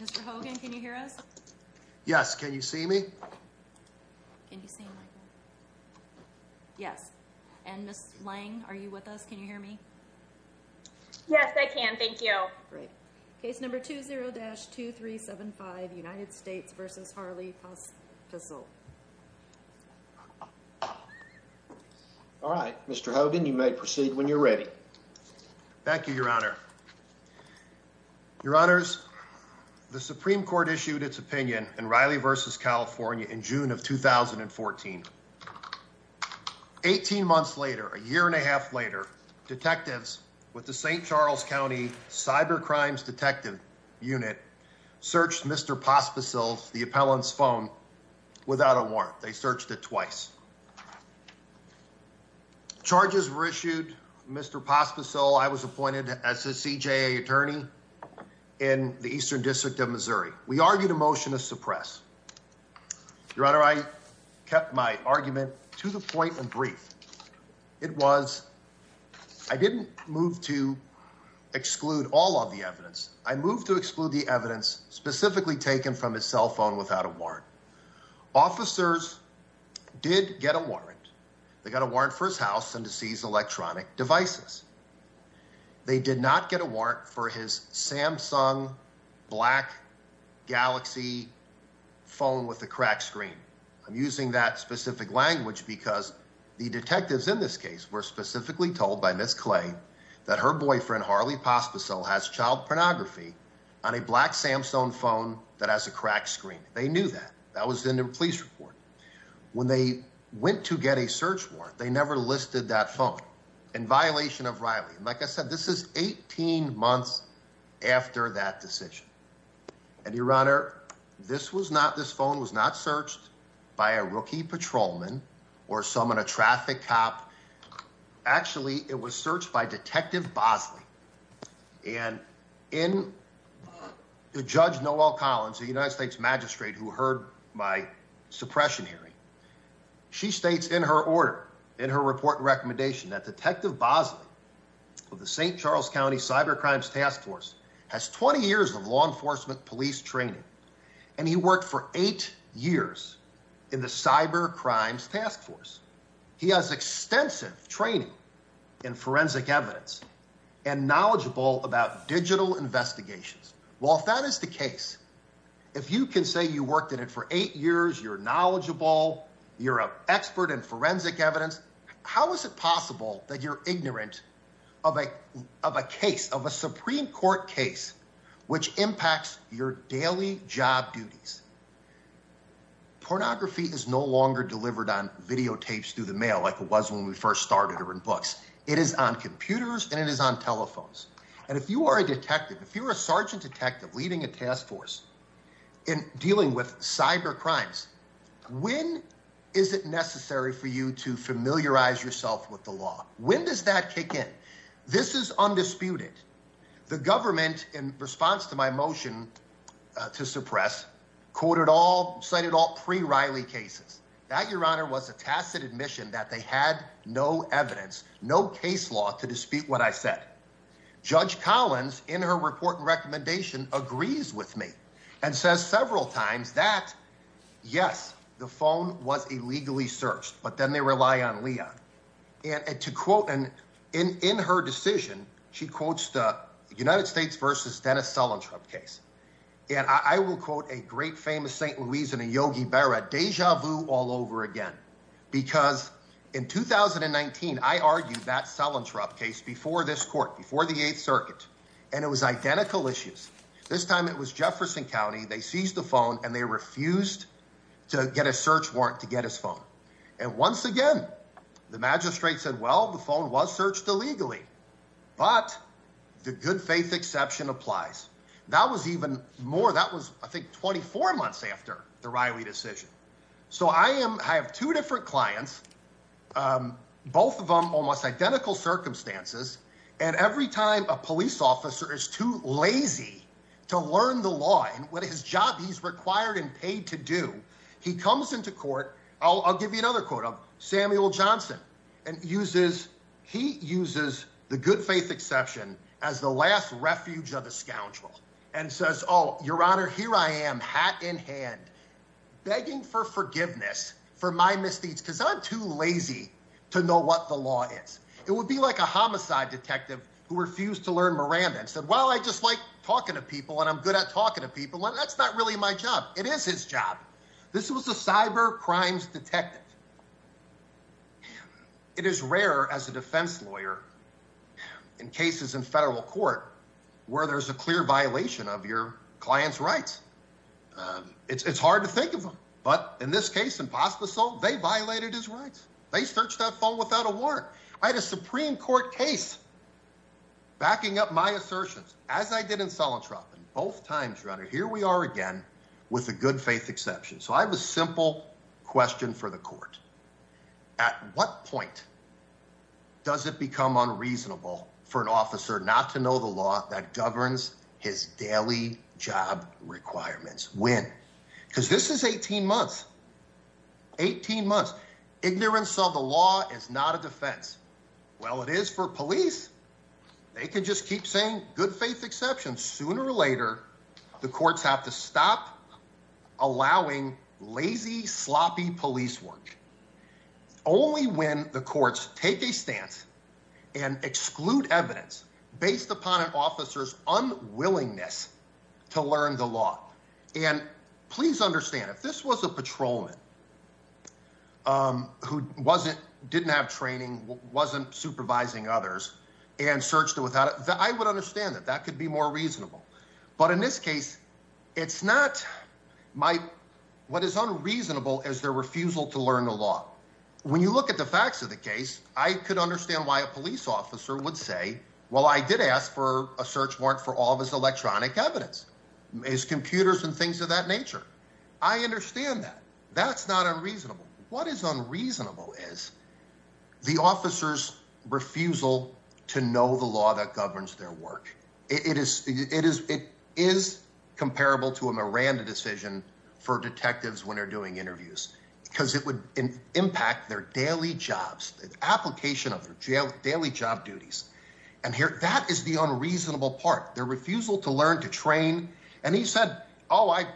Mr. Hogan, can you hear us? Yes. Can you see me? Can you see me? Yes. And Ms. Lang, are you with us? Can you hear me? Yes, I can. Thank you. Great. Case number 20-2375, United States. All right. Mr. Hogan, you may proceed when you're ready. Thank you, Your Honor. Your Honors, the Supreme Court issued its opinion in Riley v. California in June of 2014. 18 months later, a year and a half later, detectives with the St. Charles County Cyber Crimes Detective Unit searched Mr. Pospisil, the appellant's phone, without a warrant. They searched it twice. Charges were issued. Mr. Pospisil, I was appointed as a CJA attorney in the Eastern District of Missouri. We argued a motion to suppress. Your Honor, I kept my argument to the point and brief. It was, I didn't move to exclude all of the evidence. I moved to exclude the evidence specifically taken from his cell phone without a warrant. Officers did get a warrant. They got a warrant for his house and to seize electronic devices. They did not get a warrant for his Samsung Black Galaxy phone with a cracked screen. I'm using that specific language because the detectives in this case were specifically told by Ms. Clay that her boyfriend, Harley Pospisil, has child pornography on a Black That was in the police report. When they went to get a search warrant, they never listed that phone in violation of Riley. Like I said, this is 18 months after that decision. And Your Honor, this was not, this phone was not searched by a rookie patrolman or someone, a traffic cop. Actually, it was searched by Detective Bosley. And in Judge Noel Collins, the United States magistrate who heard my suppression hearing, she states in her order, in her report and recommendation that Detective Bosley of the St. Charles County Cyber Crimes Task Force has 20 years of law enforcement police training. And he worked for eight years in the Cyber Crimes Task Force. He has extensive training in forensic evidence and knowledgeable about digital investigations. Well, if that is the case, if you can say you worked at it for eight years, you're knowledgeable, you're an expert in forensic evidence, how is it possible that you're ignorant of a case, of a Supreme Court case, which impacts your daily job duties? Pornography is no longer delivered on videotapes through the mail like it was when we first started or in books. It is on computers and it is on telephones. And if you are a detective, if you're a sergeant detective leading a task force in dealing with cyber crimes, when is it necessary for you to familiarize yourself with the law? When does that kick in? This is undisputed. The government, in response to my motion to suppress, cited all pre-Riley cases. That, Your Honor, was a tacit admission that they had no evidence, no case law to dispute what I said. Judge Collins, in her report and recommendation, agrees with me and says several times that, yes, the phone was illegally searched, but then they rely on Leon. And to quote, and in her decision, she quotes the United States versus Dennis Sullentrop case. And I will quote a great famous St. Louisian and Yogi Berra, deja vu all over again. Because in 2019, I argued that Sullentrop case before this court, before the Eighth Circuit, and it was identical issues. This time it was Jefferson County. They seized the phone and they refused to get a search warrant to get his phone. And once again, the magistrate said, well, the phone was searched illegally, but the good faith exception applies. That was even more. That was, I think, 24 months after the Riley decision. So I have two different clients, both of them almost identical circumstances. And every time a police officer is too lazy to learn the law and what his job he's required and paid to do, he comes into court. I'll give you another quote of Samuel Johnson and uses, he uses the good faith exception as the last refuge of the scoundrel and says, oh, your honor, here I am, hat in hand, begging for forgiveness for my misdeeds because I'm too lazy to know what the law is. It would be like a homicide detective who refused to learn Miranda and said, well, I just like talking to people and I'm good at talking to people. And that's not really my job. It is his job. This was a cyber crimes detective. It is rare as a defense lawyer in cases in federal court where there's a clear violation of your client's rights. It's hard to think of them, but in this case, impossible. They violated his rights. They searched that phone without a warrant. I had a Supreme Court case backing up my assertions as I did in selling Trump and both times runner. Here we are again with a good faith exception. So I have a simple question for the court. At what point does it become unreasonable for an officer not to know the law that governs his daily job requirements? When? Because this is 18 months, 18 months. Ignorance of the law is not a defense. Well, it is for police. They can just keep saying good faith exceptions. Sooner or later, the courts have to stop allowing lazy, sloppy police work only when the courts take a stance and exclude evidence based upon an officer's unwillingness to learn the law. And please understand if this was a patrolman who wasn't, didn't have training, wasn't supervising others and searched it without it, I would understand that that could be more reasonable. But in this case, it's not my, what is unreasonable is their refusal to learn the law. When you look at the facts of the case, I could understand why a police officer would say, well, I did ask for a search warrant for all of his electronic evidence, his computers and things of that nature. I understand that that's not unreasonable. What is unreasonable is the officer's refusal to know the law that governs their work. It is, it is, it is comparable to a Miranda decision for detectives when they're doing interviews because it would impact their daily jobs, application of their daily job duties. And here, that is the unreasonable part, their refusal to learn to train. And he said, oh, I,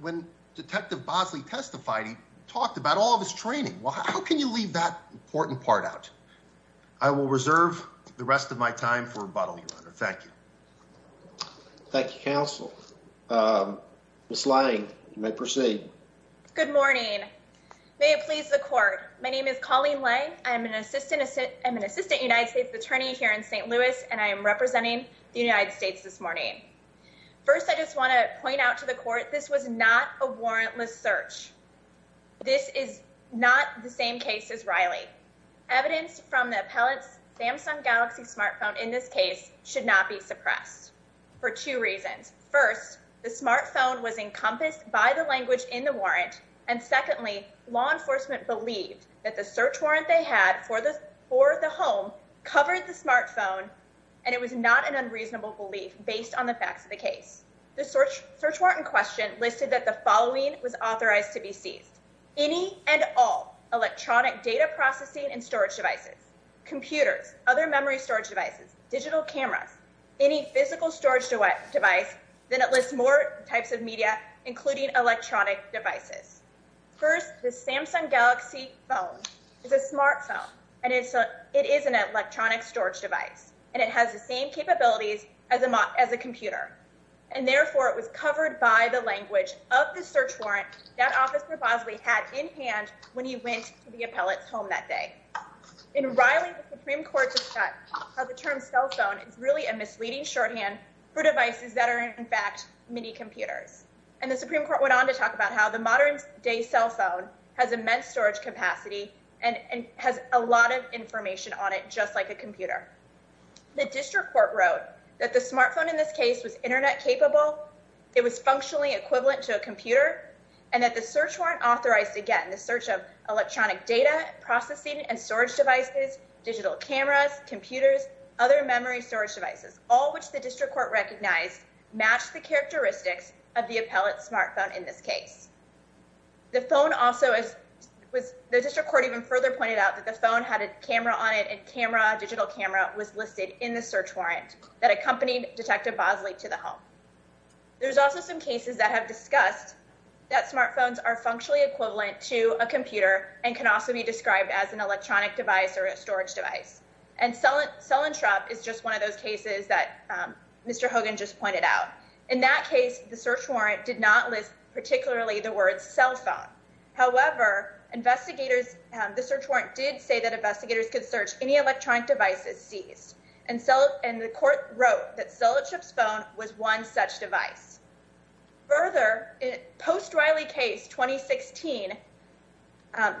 when detective Bosley testified, he talked about all of his the rest of my time for a bottle of water. Thank you. Thank you, counsel. Ms. Lange, you may proceed. Good morning. May it please the court. My name is Colleen Lange. I'm an assistant, I'm an assistant United States attorney here in St. Louis, and I am representing the United States this morning. First, I just want to point out to the court, this was not a warrantless search. This is not the same case as Riley. Evidence from the appellant's Samsung Galaxy smartphone in this case should not be suppressed for two reasons. First, the smartphone was encompassed by the language in the warrant. And secondly, law enforcement believed that the search warrant they had for the, for the home covered the smartphone. And it was not an unreasonable belief based on the facts of the case. The search warrant in question listed that the following was authorized to be seized. Any and all electronic data processing and storage devices, computers, other memory storage devices, digital cameras, any physical storage device, then it lists more types of media, including electronic devices. First, the Samsung Galaxy phone is a smartphone. And it's a, it is an electronic storage device. And it has the same capabilities as a, as a computer. And therefore it was covered by the appellant's home that day. In Riley, the Supreme Court discussed how the term cell phone is really a misleading shorthand for devices that are in fact mini computers. And the Supreme Court went on to talk about how the modern day cell phone has immense storage capacity and has a lot of information on it, just like a computer. The district court wrote that the smartphone in this case was internet capable. It was functionally equivalent to a computer and that the search warrant authorized again the search of electronic data processing and storage devices, digital cameras, computers, other memory storage devices, all which the district court recognized matched the characteristics of the appellant's smartphone in this case. The phone also is, was, the district court even further pointed out that the phone had a camera on it and camera, digital camera was listed in the search warrant that accompanied Detective Bosley to the home. There's also some cases that have discussed that smartphones are functionally equivalent to a computer and can also be described as an electronic device or a storage device. And cell, cell and trap is just one of those cases that Mr. Hogan just pointed out. In that case, the search warrant did not list particularly the word cell phone. However, investigators, the search warrant did say that investigators could search any electronic devices seized. And so, and the court wrote that Sellership's phone was one such device. Further, in Post Riley case 2016,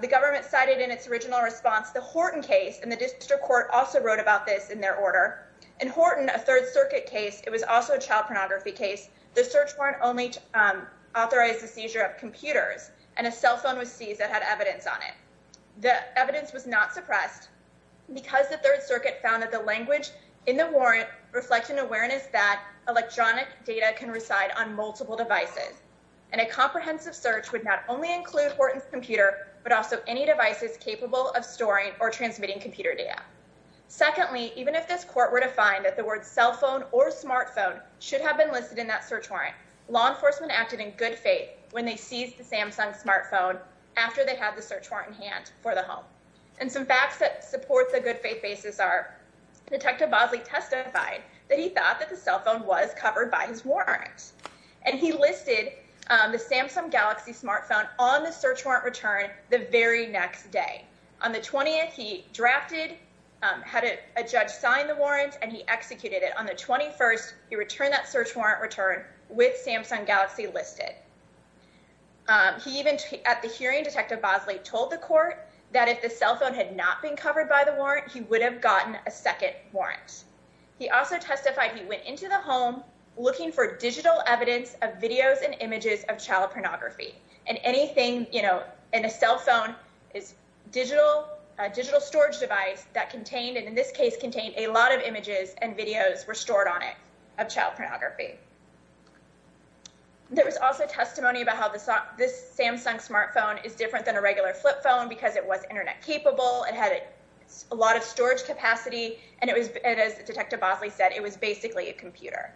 the government cited in its original response the Horton case and the district court also wrote about this in their order. In Horton, a Third Circuit case, it was also a child pornography case. The search warrant only authorized the seizure of computers and a cell phone was seized that had evidence on it. The evidence was not suppressed because the data can reside on multiple devices and a comprehensive search would not only include Horton's computer but also any devices capable of storing or transmitting computer data. Secondly, even if this court were to find that the word cell phone or smartphone should have been listed in that search warrant, law enforcement acted in good faith when they seized the Samsung smartphone after they had the search warrant in hand for the home. And some facts that support the good faith are, Detective Bosley testified that he thought that the cell phone was covered by his warrant and he listed the Samsung Galaxy smartphone on the search warrant return the very next day. On the 20th, he drafted, had a judge sign the warrants and he executed it. On the 21st, he returned that search warrant return with Samsung Galaxy listed. He even, at the hearing, Detective Bosley told the court that if the cell phone had not been covered by the warrant, he would have gotten a second warrant. He also testified he went into the home looking for digital evidence of videos and images of child pornography. And anything, you know, in a cell phone is digital, a digital storage device that contained, and in this case contained, a lot of images and videos were stored on it of child pornography. There was also testimony about how this, this Samsung smartphone is different than a regular flip phone because it was internet capable. It had a lot of storage capacity and it was, as Detective Bosley said, it was basically a computer.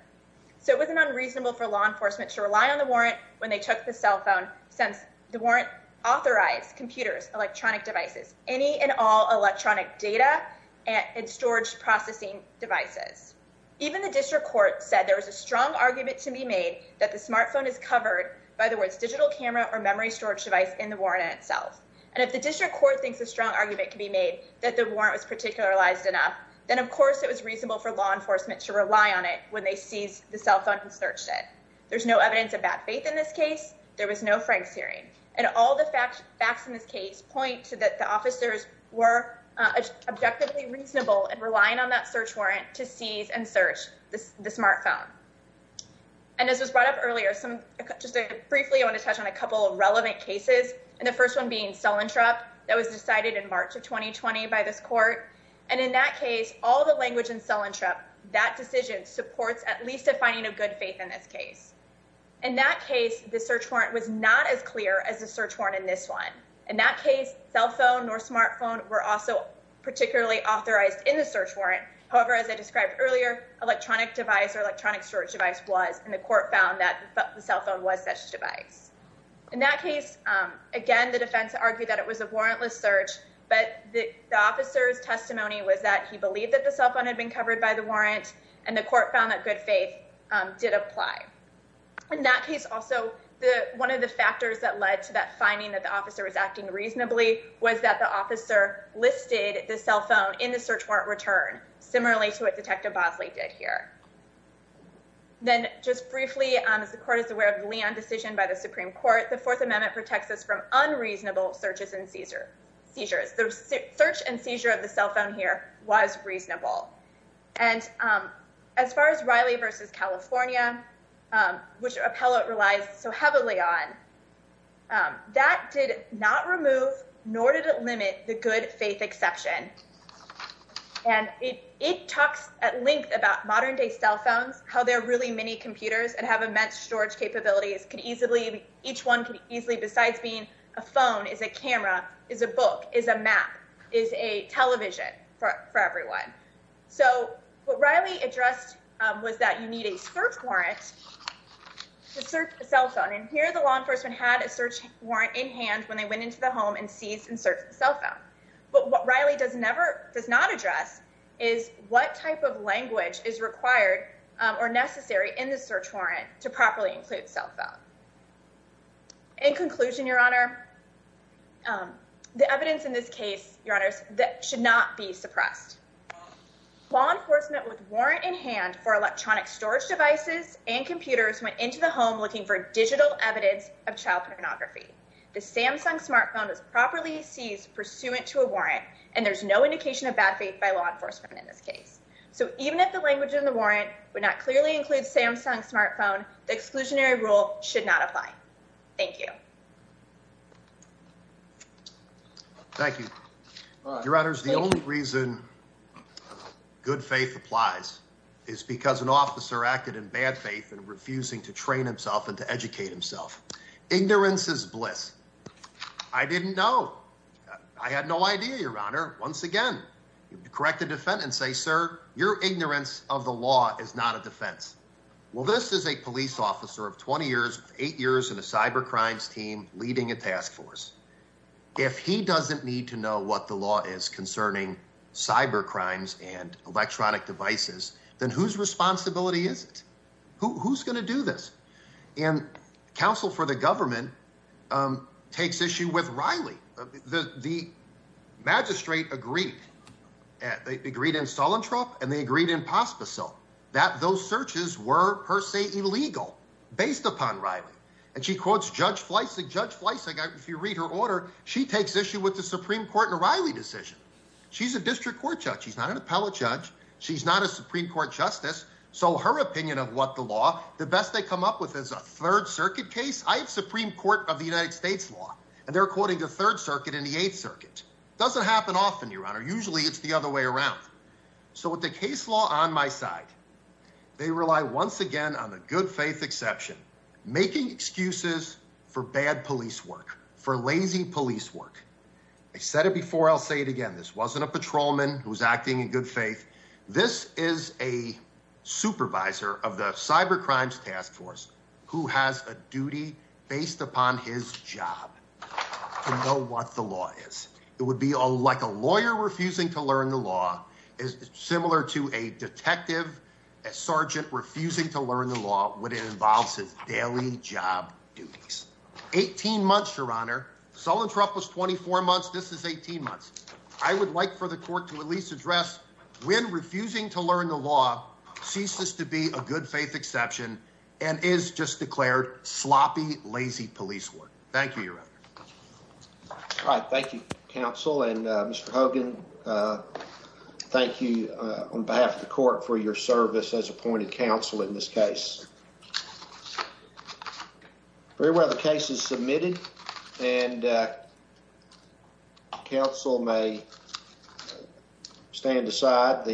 So it wasn't unreasonable for law enforcement to rely on the warrant when they took the cell phone since the warrant authorized computers, electronic devices, any and all electronic data and storage processing devices. Even the district court said there was a strong argument to be made that the smartphone is covered by the words digital camera or memory storage device in the warrant itself. And if the district court thinks a strong argument can be made that the warrant was particularized enough, then of course it was reasonable for law enforcement to rely on it when they seized the cell phone and searched it. There's no evidence of bad faith in this case. There was no Frank's hearing. And all the facts in this case point to that the officers were objectively reasonable and relying on that search warrant to seize and search this, the smartphone. And as was brought up earlier, some, just briefly, I want to touch on a couple relevant cases. And the first one being cell interrupt that was decided in March of 2020 by this court. And in that case, all the language in cell interrupt, that decision supports at least a finding of good faith in this case. In that case, the search warrant was not as clear as the search warrant in this one. In that case, cell phone or smartphone were also particularly authorized in the search warrant. However, as I described earlier, electronic device or electronic search device was, and the court found that the cell phone was such device. In that case, again, the defense argued that it was a warrantless search, but the officer's testimony was that he believed that the cell phone had been covered by the warrant, and the court found that good faith did apply. In that case also, one of the factors that led to that finding that the officer was acting reasonably was that the officer listed the cell phone in the search warrant return, similarly to what Detective Bosley did here. Then, just briefly, as the court is aware of the Leon decision by the Supreme Court, the Fourth Amendment protects us from unreasonable searches and seizures. The search and seizure of the cell phone here was reasonable. And as far as Riley versus California, which appellate relies so heavily on, that did not remove nor did it limit the good faith exception. And it talks at length about modern day cell phones, how they're really mini computers and have immense storage capabilities. Each one can easily, besides being a phone, is a camera, is a book, is a map, is a television for everyone. So what Riley addressed was that you need a search warrant to search a cell phone. And here, the law enforcement had a search warrant in hand when they went into the home and seized and searched the cell phone. But what Riley does not address is what type of language is required or necessary in the search warrant to properly include cell phone. In conclusion, Your Honor, the evidence in this case, Your Honors, that should not be suppressed. Law enforcement with warrant in hand for electronic pornography. The Samsung smartphone was properly seized pursuant to a warrant, and there's no indication of bad faith by law enforcement in this case. So even if the language in the warrant would not clearly include Samsung smartphone, the exclusionary rule should not apply. Thank you. Thank you, Your Honors. The only reason good faith applies is because an officer acted in faith and refusing to train himself and to educate himself. Ignorance is bliss. I didn't know. I had no idea, Your Honor. Once again, correct the defendant and say, sir, your ignorance of the law is not a defense. Well, this is a police officer of 20 years, eight years in a cyber crimes team leading a task force. If he doesn't need to know what the law is concerning cyber crimes and electronic devices, then whose responsibility is it? Who's going to do this? And counsel for the government takes issue with Riley. The magistrate agreed. They agreed in Solentrop and they agreed in Pospisil that those searches were per se illegal based upon Riley. And she quotes Judge Fleissig. Judge Fleissig, if you read her order, she takes issue with the Supreme Court and Riley decision. She's a district court judge. She's not an appellate judge. She's not a Supreme Court justice. So her opinion of what the law, the best they come up with is a third circuit case. I have Supreme Court of the United States law and they're quoting the third circuit in the eighth circuit. It doesn't happen often, Your Honor. Usually it's the other way around. So with the case law on my side, they rely once again on the good faith exception, making excuses for bad police work, for lazy police work. I said it before, I'll say it again. This wasn't a patrolman who was acting in good faith. This is a supervisor of the cyber crimes task force who has a duty based upon his job to know what the law is. It would be like a lawyer refusing to learn the law is similar to a detective, a sergeant refusing to learn the law when it was 24 months. This is 18 months. I would like for the court to at least address when refusing to learn the law ceases to be a good faith exception and is just declared sloppy, lazy police work. Thank you, Your Honor. All right. Thank you, counsel. And Mr. Hogan, thank you on behalf of the court for your service as appointed counsel in this case. Very well, the case is submitted and counsel may stand aside.